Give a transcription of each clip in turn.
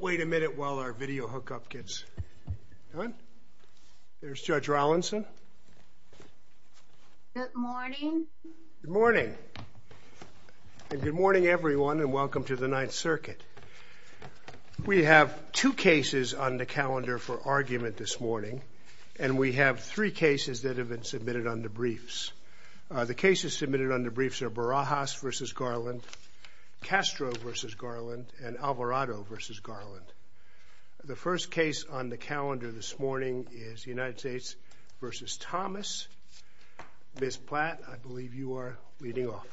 Wait a minute while our video hookup gets going. There's Judge Rollinson. Good morning. Good morning. And good morning, everyone, and welcome to the Ninth Circuit. We have two cases on the calendar for argument this morning, and we have three cases that have been submitted under briefs. The cases submitted under briefs are Barajas v. Garland, Castro v. Garland, and Alvarado v. Garland. The first case on the calendar this morning is United States v. Thomas. Ms. Platt, I believe you are leading off.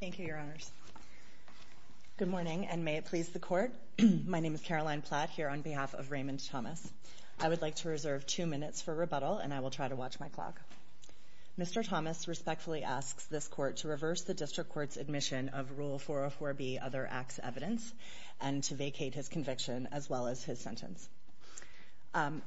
Thank you, Your Honors. Good morning, and may it please the Court. My name is Caroline Platt, here on behalf of Raymond Thomas. I would like to reserve two minutes for rebuttal, and I will try to watch my clock. Mr. Thomas respectfully asks this Court to reverse the District Court's admission of Rule 404B, Other Acts Evidence, and to vacate his conviction as well as his sentence.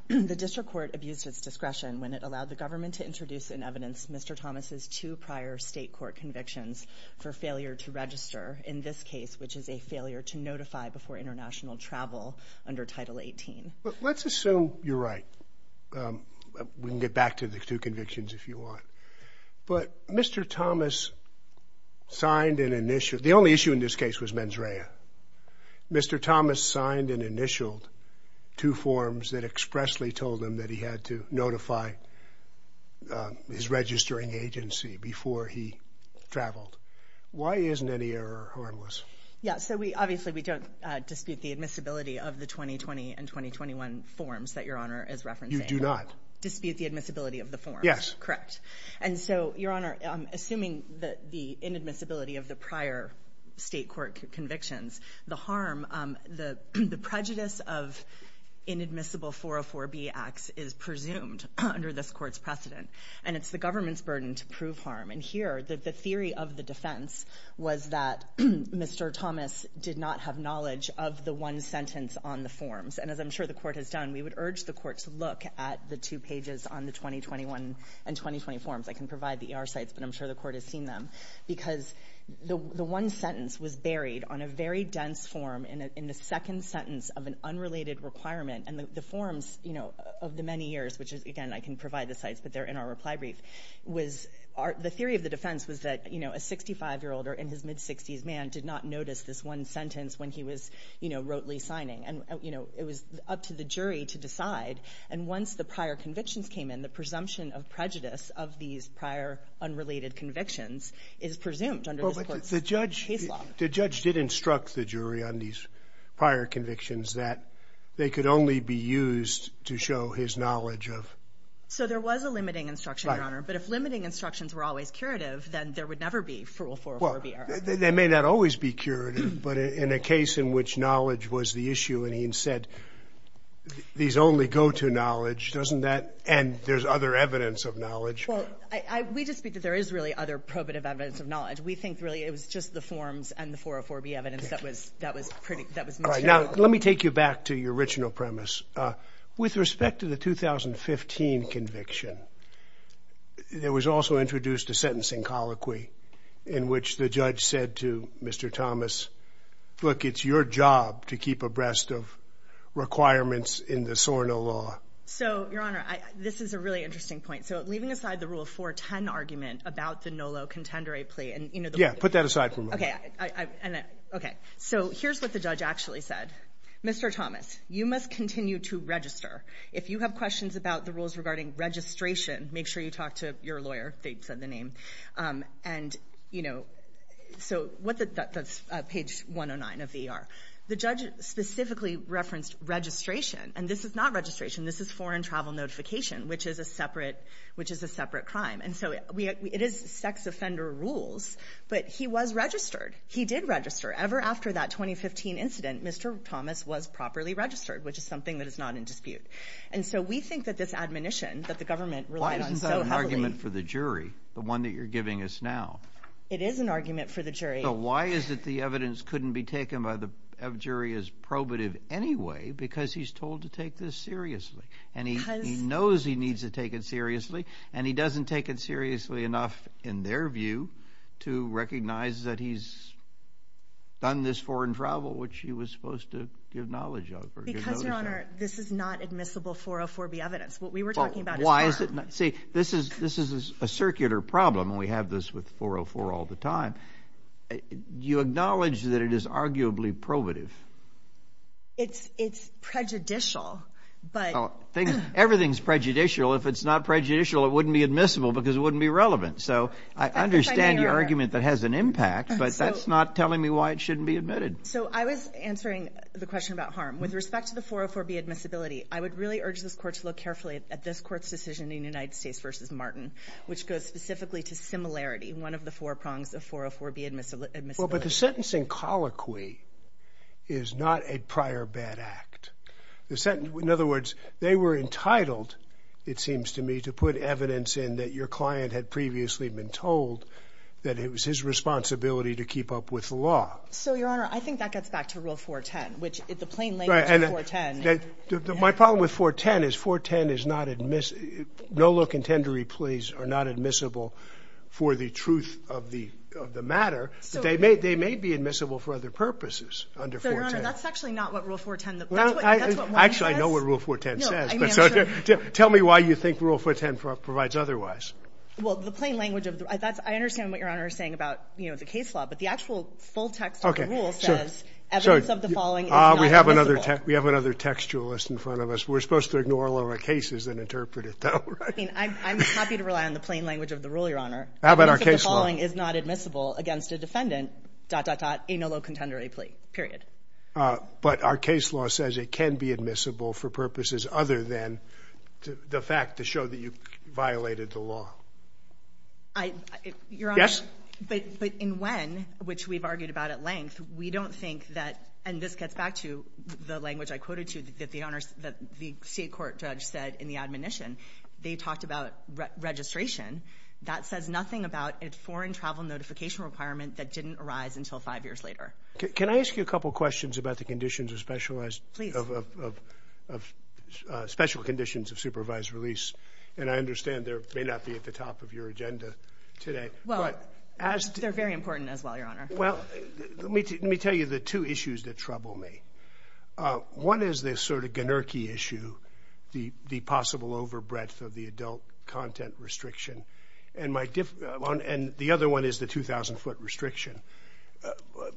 The District Court abused its discretion when it allowed the government to introduce in evidence Mr. Thomas' two prior state court convictions for failure to register, in this case, which is a failure to notify before international travel under Title 18. Well, let's assume you're right. We can get back to the two convictions if you want. But Mr. Thomas signed an initial – the only issue in this case was mens rea. Mr. Thomas signed and initialed two forms that expressly told him that he had to notify his registering agency before he traveled. Why isn't any error harmless? Yeah, so we – obviously we don't dispute the admissibility of the 2020 and 2021 forms that Your Honor is referencing. You do not? Dispute the admissibility of the forms. Yes. Correct. And so, Your Honor, assuming the inadmissibility of the prior state court convictions, the harm – the prejudice of inadmissible 404B acts is presumed under this Court's precedent, and it's the government's burden to prove harm. And here, the theory of the defense was that Mr. Thomas did not have knowledge of the one sentence on the forms. And as I'm sure the Court has done, we would urge the Court to look at the two pages on the 2021 and 2020 forms. I can provide the ER sites, but I'm sure the Court has seen them. Because the one sentence was buried on a very dense form in the second sentence of an unrelated requirement. And the forms, you know, of the many years, which is – again, I can provide the sites, but they're in our reply brief – was – the theory of the defense was that, you know, a 65-year-old or in his mid-60s man did not notice this one sentence when he was, you know, wrotely signing. And, you know, it was up to the jury to decide. And once the prior convictions came in, the presumption of prejudice of these prior unrelated convictions is presumed under this Court's case law. But the judge – the judge did instruct the jury on these prior convictions that they could only be used to show his knowledge of – So there was a limiting instruction, Your Honor. But if limiting instructions were always curative, then there would never be frual 404-B errors. Well, they may not always be curative, but in a case in which knowledge was the issue, and he said these only go to knowledge, doesn't that – and there's other evidence of knowledge. Well, I – we just speak that there is really other probative evidence of knowledge. We think really it was just the forms and the 404-B evidence that was – that was pretty – that was mentioned. All right, now let me take you back to your original premise. With respect to the 2015 conviction, there was also introduced a sentencing colloquy in which the judge said to Mr. Thomas, look, it's your job to keep abreast of requirements in the SORNA law. So, Your Honor, this is a really interesting point. So leaving aside the Rule 410 argument about the NOLO contendere plea and, you know, the – Yeah, put that aside for a moment. Okay. Okay. So here's what the judge actually said. Mr. Thomas, you must continue to register. If you have questions about the rules regarding registration, make sure you talk to your lawyer. They've said the name. And, you know, so what the – that's page 109 of the ER. The judge specifically referenced registration, and this is not registration. This is foreign travel notification, which is a separate – which is a separate crime. And so it is sex offender rules, but he was registered. He did register. Ever after that 2015 incident, Mr. Thomas was properly registered, which is something that is not in dispute. And so we think that this admonition that the government relied on so heavily – Why isn't that an argument for the jury, the one that you're giving us now? It is an argument for the jury. So why is it the evidence couldn't be taken by the jury as probative anyway? Because he's told to take this seriously. Because – And he knows he needs to take it seriously, and he doesn't take it seriously enough, in their view, to recognize that he's done this foreign travel, which he was supposed to give knowledge of or give notice of. Because, Your Honor, this is not admissible 404B evidence. What we were talking about is foreign. See, this is a circular problem. We have this with 404 all the time. You acknowledge that it is arguably probative. It's prejudicial, but – Everything's prejudicial. If it's not prejudicial, it wouldn't be admissible because it wouldn't be relevant. So I understand your argument that has an impact, but that's not telling me why it shouldn't be admitted. So I was answering the question about harm. With respect to the 404B admissibility, I would really urge this Court to look carefully at this Court's decision in United States v. Martin, which goes specifically to similarity, one of the four prongs of 404B admissibility. Well, but the sentencing colloquy is not a prior bad act. In other words, they were entitled, it seems to me, to put evidence in that your client had previously been told that it was his responsibility to keep up with the law. So, Your Honor, I think that gets back to Rule 410, which the plain language of 410. My problem with 410 is 410 is not admissible. No look and tend to replays are not admissible for the truth of the matter. They may be admissible for other purposes under 410. Your Honor, that's actually not what Rule 410, that's what Martin says. Actually, I know what Rule 410 says. Tell me why you think Rule 410 provides otherwise. Well, the plain language of, I understand what Your Honor is saying about the case law, but the actual full text of the rule says evidence of the following is not admissible. We have another textualist in front of us. We're supposed to ignore a lot of cases and interpret it that way. I mean, I'm happy to rely on the plain language of the rule, Your Honor. How about our case law? The following is not admissible against a defendant, dot, dot, dot, a no look and tend to replay, period. But our case law says it can be admissible for purposes other than the fact to show that you violated the law. Your Honor. Yes. But in when, which we've argued about at length, we don't think that, and this gets back to the language I quoted to you, that the state court judge said in the admonition, they talked about registration. That says nothing about a foreign travel notification requirement that didn't arise until five years later. Can I ask you a couple questions about the conditions of specialized, of special conditions of supervised release? And I understand there may not be at the top of your agenda today. Well, they're very important as well, Your Honor. Well, let me tell you the two issues that trouble me. One is this sort of generic issue, the possible overbreadth of the adult content restriction. And the other one is the 2,000 foot restriction.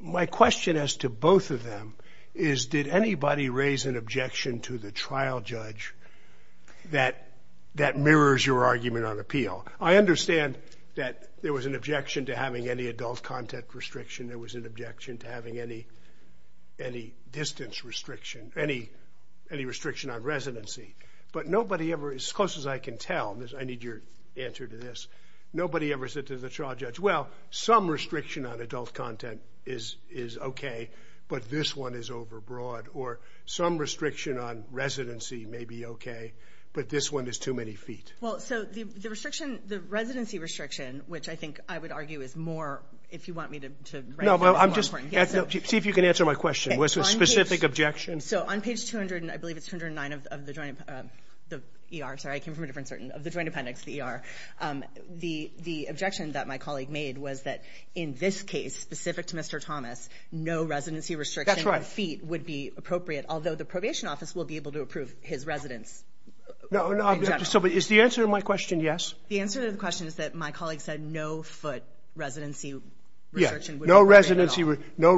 My question as to both of them is did anybody raise an objection to the trial judge that mirrors your argument on appeal? I understand that there was an objection to having any adult content restriction. There was an objection to having any distance restriction, any restriction on residency. But nobody ever, as close as I can tell, I need your answer to this, nobody ever said to the trial judge, well, some restriction on adult content is okay, but this one is overbroad. Or some restriction on residency may be okay, but this one is too many feet. Well, so the restriction, the residency restriction, which I think I would argue is more, if you want me to write it down. No, but I'm just, see if you can answer my question. What's the specific objection? So on page 200, I believe it's 209 of the joint, the ER, sorry, I came from a different certain, of the joint appendix, the ER. The objection that my colleague made was that in this case, specific to Mr. Thomas, no residency restriction on feet would be appropriate. Although the probation office will be able to approve his residence. Is the answer to my question yes? The answer to the question is that my colleague said no foot residency restriction would be appropriate at all.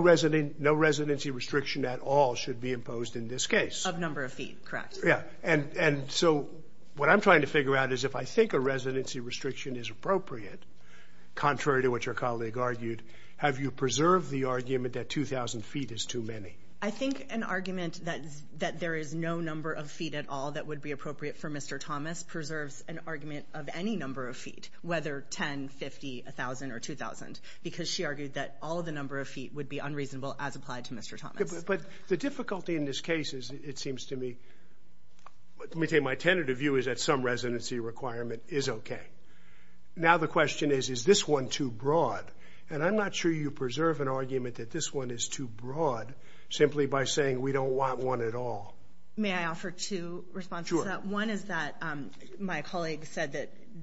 No residency restriction at all should be imposed in this case. Of number of feet, correct. Yeah, and so what I'm trying to figure out is if I think a residency restriction is appropriate, contrary to what your colleague argued, have you preserved the argument that 2,000 feet is too many? I think an argument that there is no number of feet at all that would be appropriate for Mr. Thomas preserves an argument of any number of feet, whether 10, 50, 1,000, or 2,000, because she argued that all the number of feet would be unreasonable as applied to Mr. Thomas. But the difficulty in this case is it seems to me, let me tell you, my tentative view is that some residency requirement is okay. Now the question is, is this one too broad? And I'm not sure you preserve an argument that this one is too broad simply by saying we don't want one at all. May I offer two responses to that? Sure. One is that my colleague said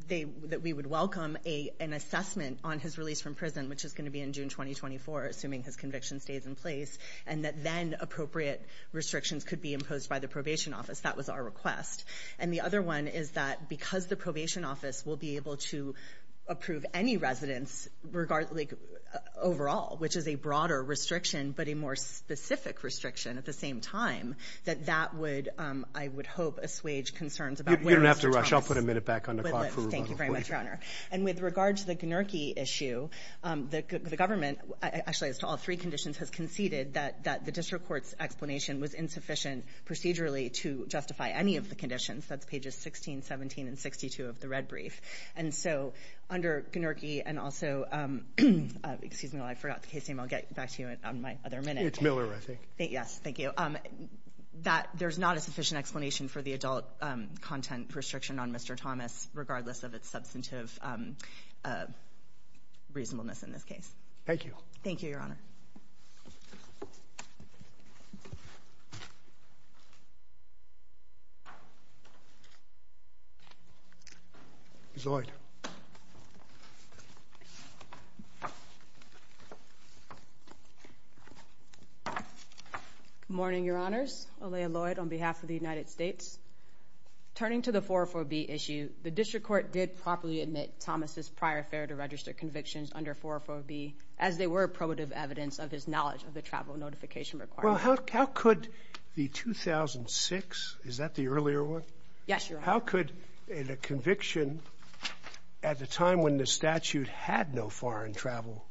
that we would welcome an assessment on his release from prison, which is going to be in June 2024, assuming his conviction stays in place, and that then appropriate restrictions could be imposed by the probation office. That was our request. And the other one is that because the probation office will be able to approve any residence overall, which is a broader restriction but a more specific restriction at the same time, that that would, I would hope, assuage concerns about where Mr. Thomas would live. You don't have to rush. I'll put a minute back on the clock for rebuttal. Thank you very much, Your Honor. And with regard to the Gnerke issue, the government, actually as to all three conditions, has conceded that the district court's explanation was insufficient procedurally to justify any of the conditions. That's pages 16, 17, and 62 of the red brief. And so under Gnerke and also, excuse me, I forgot the case name. I'll get back to you on my other minute. It's Miller, I think. Yes, thank you. That there's not a sufficient explanation for the adult content restriction on Mr. Thomas, regardless of its substantive reasonableness in this case. Thank you. Thank you, Your Honor. Lloyd. Good morning, Your Honors. Olaya Lloyd on behalf of the United States. Turning to the 404B issue, the district court did properly admit Thomas's prior fair to register convictions under 404B, as they were probative evidence of his knowledge of the travel notification requirement. Well, how could the 2006, is that the earlier one? Yes, Your Honor. How could the conviction at the time when the statute had no foreign travel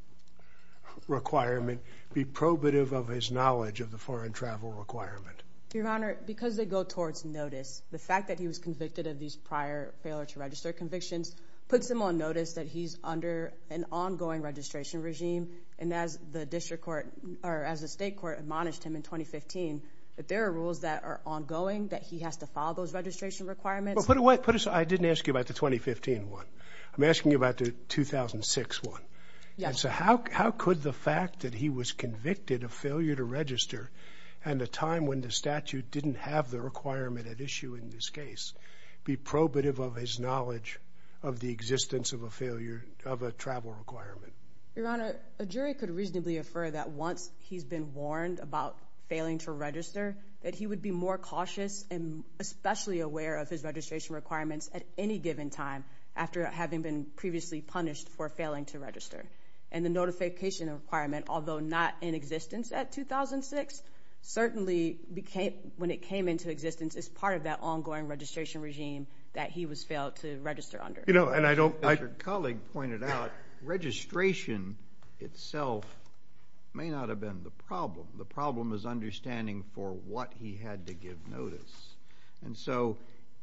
requirement be probative of his knowledge of the foreign travel requirement? Your Honor, because they go towards notice, the fact that he was convicted of these prior failure to register convictions puts him on notice that he's under an ongoing registration regime. And as the district court, or as the state court admonished him in 2015, that there are rules that are ongoing, that he has to follow those registration requirements. Well, put it so I didn't ask you about the 2015 one. I'm asking you about the 2006 one. Yes. And so how could the fact that he was convicted of failure to register at a time when the statute didn't have the requirement at issue in this case be probative of his knowledge of the existence of a travel requirement? Your Honor, a jury could reasonably infer that once he's been warned about failing to register, that he would be more cautious and especially aware of his registration requirements at any given time after having been previously punished for failing to register. And the notification requirement, although not in existence at 2006, certainly when it came into existence, is part of that ongoing registration regime that he was failed to register under. You know, and I don't— As your colleague pointed out, registration itself may not have been the problem. The problem is understanding for what he had to give notice. And so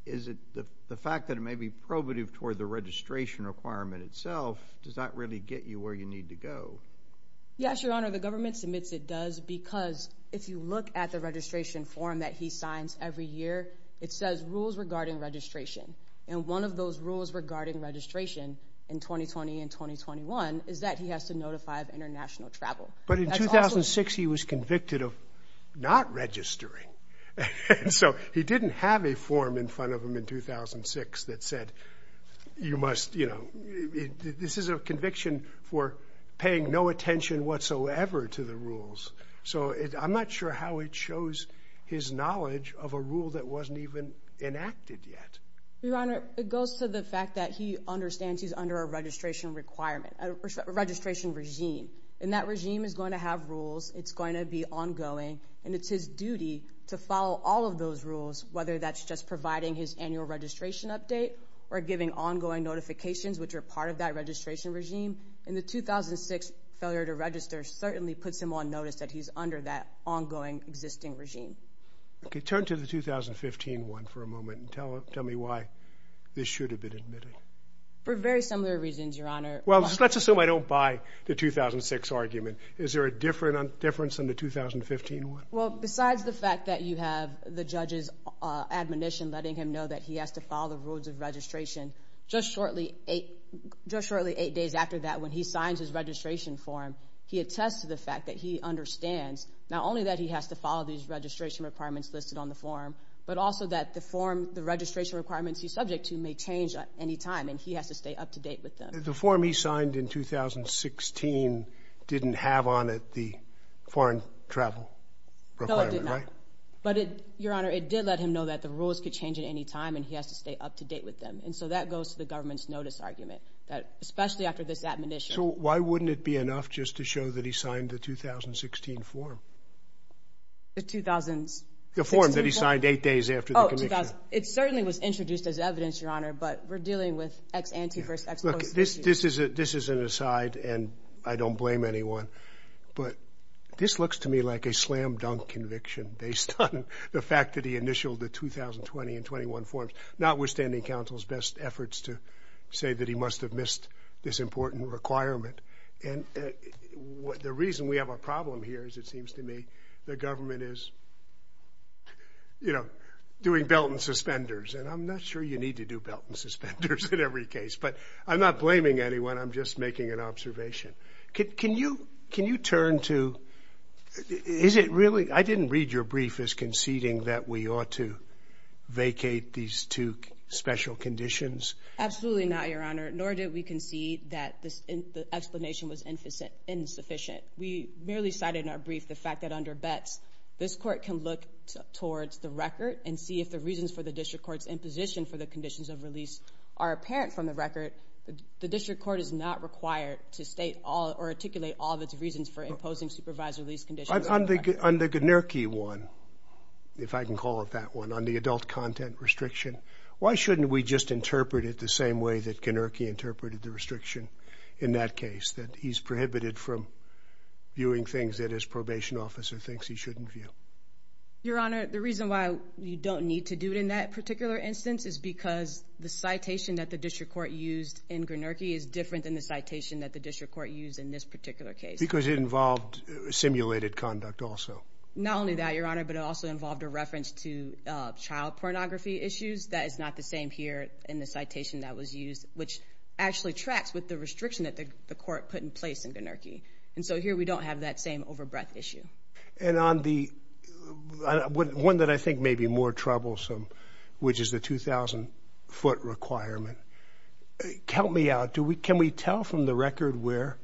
is it the fact that it may be probative toward the registration requirement itself, does that really get you where you need to go? Yes, Your Honor. Your Honor, the government submits it does because if you look at the registration form that he signs every year, it says rules regarding registration. And one of those rules regarding registration in 2020 and 2021 is that he has to notify of international travel. But in 2006 he was convicted of not registering. And so he didn't have a form in front of him in 2006 that said, you must—this is a conviction for paying no attention whatsoever to the rules. So I'm not sure how it shows his knowledge of a rule that wasn't even enacted yet. Your Honor, it goes to the fact that he understands he's under a registration requirement, a registration regime. And that regime is going to have rules. It's going to be ongoing. And it's his duty to follow all of those rules, whether that's just providing his annual registration update or giving ongoing notifications, which are part of that registration regime. And the 2006 failure to register certainly puts him on notice that he's under that ongoing existing regime. Okay, turn to the 2015 one for a moment and tell me why this should have been admitted. For very similar reasons, Your Honor. Well, let's assume I don't buy the 2006 argument. Is there a difference in the 2015 one? Well, besides the fact that you have the judge's admonition letting him know that he has to follow the rules of registration, just shortly eight days after that when he signs his registration form, he attests to the fact that he understands not only that he has to follow these registration requirements listed on the form, but also that the form, the registration requirements he's subject to, may change at any time, and he has to stay up to date with them. The form he signed in 2016 didn't have on it the foreign travel requirement, right? No, it did not. But, Your Honor, it did let him know that the rules could change at any time and he has to stay up to date with them. And so that goes to the government's notice argument, that especially after this admonition. So why wouldn't it be enough just to show that he signed the 2016 form? The 2000s? The form that he signed eight days after the conviction. Oh, it certainly was introduced as evidence, Your Honor, but we're dealing with ex ante versus ex post issues. Look, this is an aside, and I don't blame anyone, but this looks to me like a slam dunk conviction based on the fact that he initialed the 2020 and 21 forms, notwithstanding counsel's best efforts to say that he must have missed this important requirement. And the reason we have a problem here is, it seems to me, the government is, you know, doing belt and suspenders, and I'm not sure you need to do belt and suspenders in every case, but I'm not blaming anyone, I'm just making an observation. Can you turn to, is it really, I didn't read your brief as conceding that we ought to vacate these two special conditions. Absolutely not, Your Honor, nor did we concede that the explanation was insufficient. We merely cited in our brief the fact that under bets, this court can look towards the record and see if the reasons for the district court's imposition for the conditions of release are apparent from the record. The district court is not required to state or articulate all of its reasons for imposing supervised release conditions. On the Gnierke one, if I can call it that one, on the adult content restriction, why shouldn't we just interpret it the same way that Gnierke interpreted the restriction in that case, that he's prohibited from viewing things that his probation officer thinks he shouldn't view? Your Honor, the reason why you don't need to do it in that particular instance is because the citation that the district court used in Gnierke is different than the citation that the district court used in this particular case. Because it involved simulated conduct also. Not only that, Your Honor, but it also involved a reference to child pornography issues. That is not the same here in the citation that was used, which actually tracks with the restriction that the court put in place in Gnierke. And so here we don't have that same over-breath issue. And on the one that I think may be more troublesome, which is the 2,000-foot requirement, help me out. Can we tell from the record where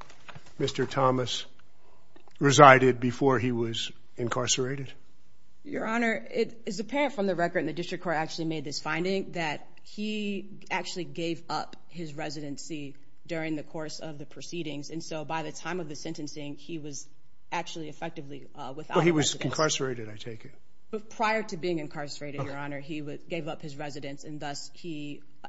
Mr. Thomas resided before he was incarcerated? Your Honor, it is apparent from the record, and the district court actually made this finding, that he actually gave up his residency during the course of the proceedings. And so by the time of the sentencing, he was actually effectively without a residence. Well, he was incarcerated, I take it. Prior to being incarcerated, Your Honor, he gave up his residence. And thus,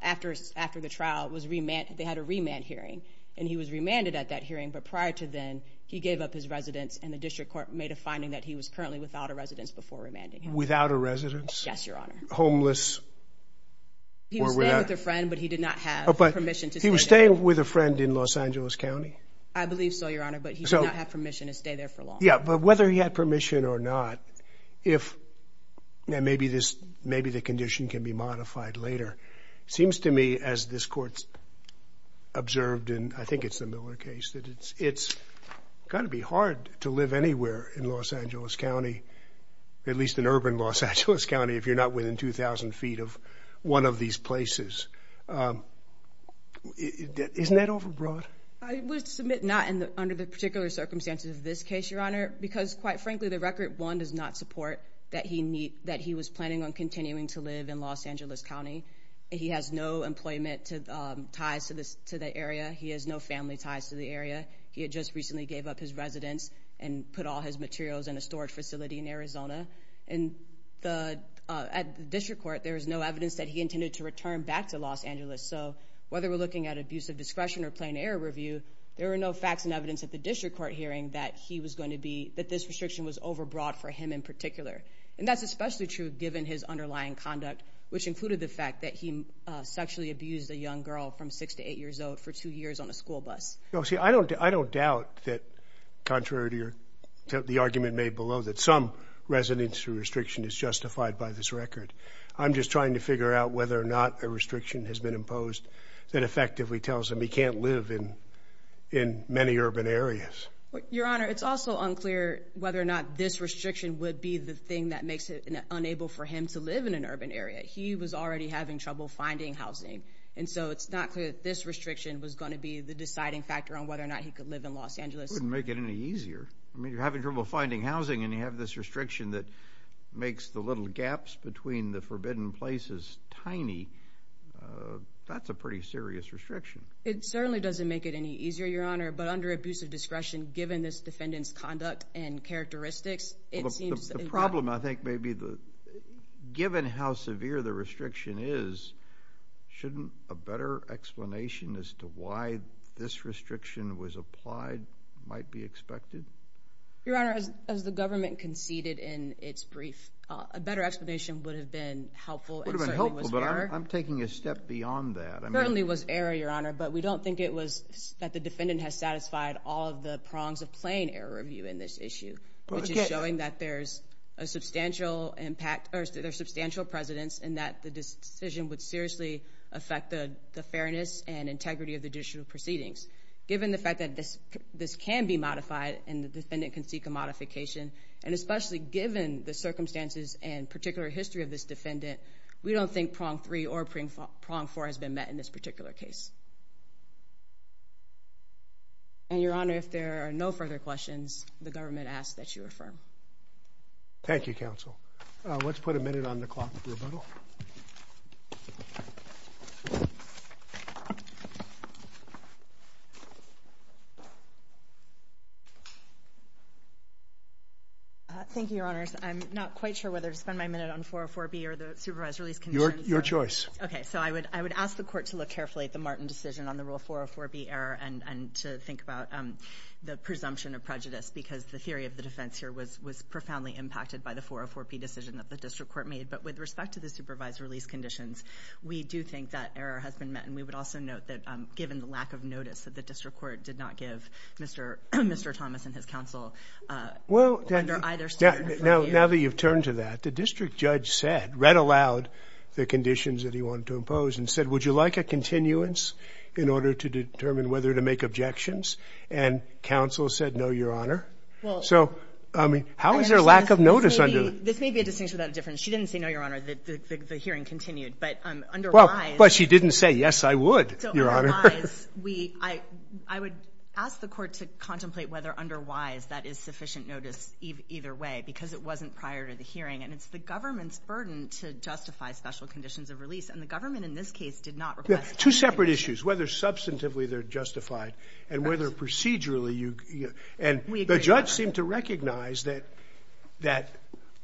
after the trial, they had a remand hearing, and he was remanded at that hearing. But prior to then, he gave up his residence, and the district court made a finding that he was currently without a residence before remanding him. Without a residence? Yes, Your Honor. Homeless? He was staying with a friend, but he did not have permission to stay. He was staying with a friend in Los Angeles County? I believe so, Your Honor, but he did not have permission to stay there for long. Yeah, but whether he had permission or not, if maybe the condition can be modified later, it seems to me as this court observed in, I think it's the Miller case, that it's got to be hard to live anywhere in Los Angeles County, at least in urban Los Angeles County, if you're not within 2,000 feet of one of these places. Isn't that overbroad? I would submit not under the particular circumstances of this case, Your Honor, because, quite frankly, the record, one, does not support that he was planning on continuing to live in Los Angeles County. He has no employment ties to the area. He has no family ties to the area. He had just recently gave up his residence and put all his materials in a storage facility in Arizona. And at the district court, there is no evidence that he intended to return back to Los Angeles. So whether we're looking at abuse of discretion or plain error review, there are no facts and evidence at the district court hearing that he was going to be, that this restriction was overbroad for him in particular. And that's especially true given his underlying conduct, which included the fact that he sexually abused a young girl from 6 to 8 years old for 2 years on a school bus. No, see, I don't doubt that, contrary to the argument made below, that some residency restriction is justified by this record. I'm just trying to figure out whether or not a restriction has been imposed that effectively tells him he can't live in many urban areas. Your Honor, it's also unclear whether or not this restriction would be the thing that makes it unable for him to live in an urban area. He was already having trouble finding housing. And so it's not clear that this restriction was going to be the deciding factor on whether or not he could live in Los Angeles. It wouldn't make it any easier. I mean, you're having trouble finding housing, and you have this restriction that makes the little gaps between the forbidden places tiny. That's a pretty serious restriction. It certainly doesn't make it any easier, Your Honor, but under abuse of discretion, given this defendant's conduct and characteristics, The problem, I think, may be given how severe the restriction is, shouldn't a better explanation as to why this restriction was applied might be expected? Your Honor, as the government conceded in its brief, a better explanation would have been helpful. It would have been helpful, but I'm taking a step beyond that. It certainly was error, Your Honor, but we don't think it was that the defendant has satisfied all of the prongs of plain error review in this issue, which is showing that there's a substantial impact or there's substantial precedence in that the decision would seriously affect the fairness and integrity of the judicial proceedings. Given the fact that this can be modified and the defendant can seek a modification, and especially given the circumstances and particular history of this defendant, we don't think prong three or prong four has been met in this particular case. And, Your Honor, if there are no further questions, the government asks that you affirm. Thank you, Counsel. Let's put a minute on the clock for rebuttal. Thank you, Your Honors. I'm not quite sure whether to spend my minute on 404B or the supervised release concerns. Your choice. Okay. So I would ask the court to look carefully at the Martin decision on the rule 404B error and to think about the presumption of prejudice because the theory of the defense here was profoundly impacted by the 404B decision that the district court made. But with respect to the supervised release conditions, we do think that error has been met. And we would also note that given the lack of notice, that the district court did not give Mr. Thomas and his counsel under either standard review. Now that you've turned to that, what the district judge said read aloud the conditions that he wanted to impose and said, would you like a continuance in order to determine whether to make objections? And counsel said, no, Your Honor. So, I mean, how is there a lack of notice? This may be a distinction without a difference. She didn't say no, Your Honor. The hearing continued. But otherwise. But she didn't say, yes, I would, Your Honor. So otherwise, I would ask the court to contemplate whether otherwise that is sufficient notice either way because it wasn't prior to the hearing. And it's the government's burden to justify special conditions of release. And the government in this case did not request. Two separate issues, whether substantively they're justified and whether procedurally. And the judge seemed to recognize that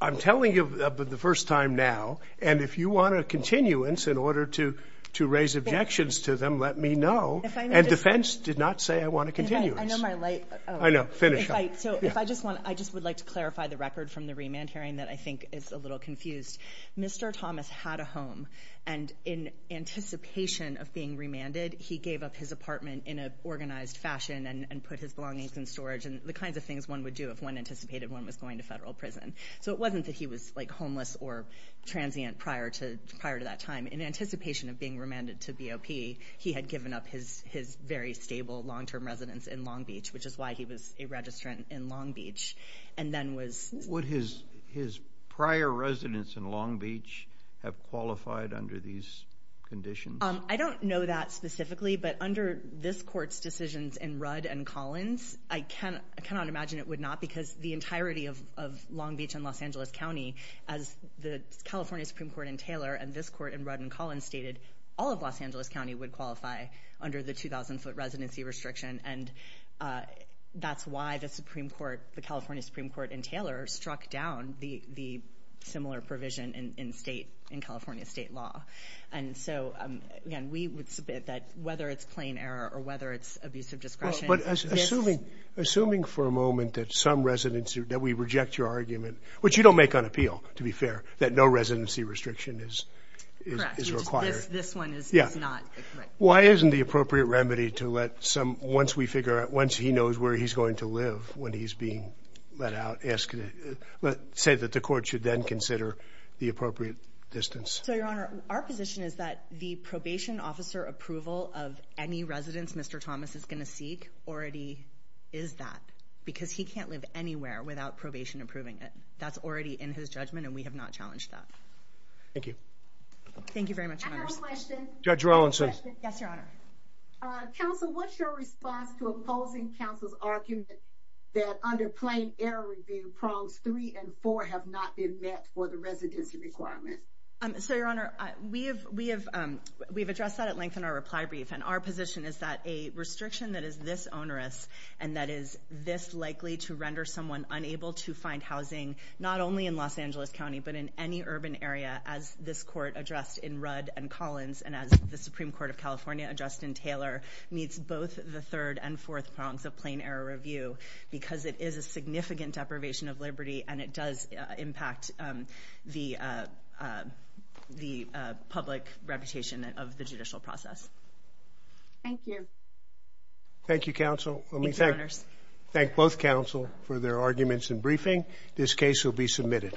I'm telling you for the first time now. And if you want a continuance in order to raise objections to them, let me know. And defense did not say I want a continuance. I know my light. I know. So finish up. So if I just want, I just would like to clarify the record from the remand hearing that I think is a little confused. Mr. Thomas had a home. And in anticipation of being remanded, he gave up his apartment in an organized fashion and put his belongings in storage and the kinds of things one would do if one anticipated one was going to federal prison. So it wasn't that he was, like, homeless or transient prior to that time. In anticipation of being remanded to BOP, he had given up his very stable long-term residence in Long Beach, which is why he was a registrant in Long Beach, and then was. Would his prior residence in Long Beach have qualified under these conditions? I don't know that specifically, but under this court's decisions in Rudd and Collins, I cannot imagine it would not because the entirety of Long Beach and Los Angeles County, as the California Supreme Court in Taylor and this court in Rudd and Collins stated, all of Los Angeles County would qualify under the 2,000-foot residency restriction. And that's why the Supreme Court, the California Supreme Court in Taylor, struck down the similar provision in state, in California state law. And so, again, we would submit that whether it's plain error or whether it's abusive discretion. But assuming for a moment that some residents, that we reject your argument, which you don't make on appeal, to be fair, that no residency restriction is required. Correct. This one is not. Why isn't the appropriate remedy to let some, once we figure out, once he knows where he's going to live when he's being let out, say that the court should then consider the appropriate distance? So, Your Honor, our position is that the probation officer approval of any residence Mr. Thomas is going to seek already is that, because he can't live anywhere without probation approving it. That's already in his judgment, and we have not challenged that. Thank you. Thank you very much, Your Honor. I have a question. Judge Rawlinson. Yes, Your Honor. Counsel, what's your response to opposing counsel's argument that under plain error review prongs three and four have not been met for the residency requirement? So, Your Honor, we have addressed that at length in our reply brief, and our position is that a restriction that is this onerous and that is this likely to render someone unable to find housing, not only in Los Angeles County, but in any urban area as this court addressed in Rudd and Collins and as the Supreme Court of California addressed in Taylor, meets both the third and fourth prongs of plain error review because it is a significant deprivation of liberty and it does impact the public reputation of the judicial process. Thank you. Thank you, counsel. Thank you, Your Honors. Thank both counsel for their arguments and briefing. This case will be submitted.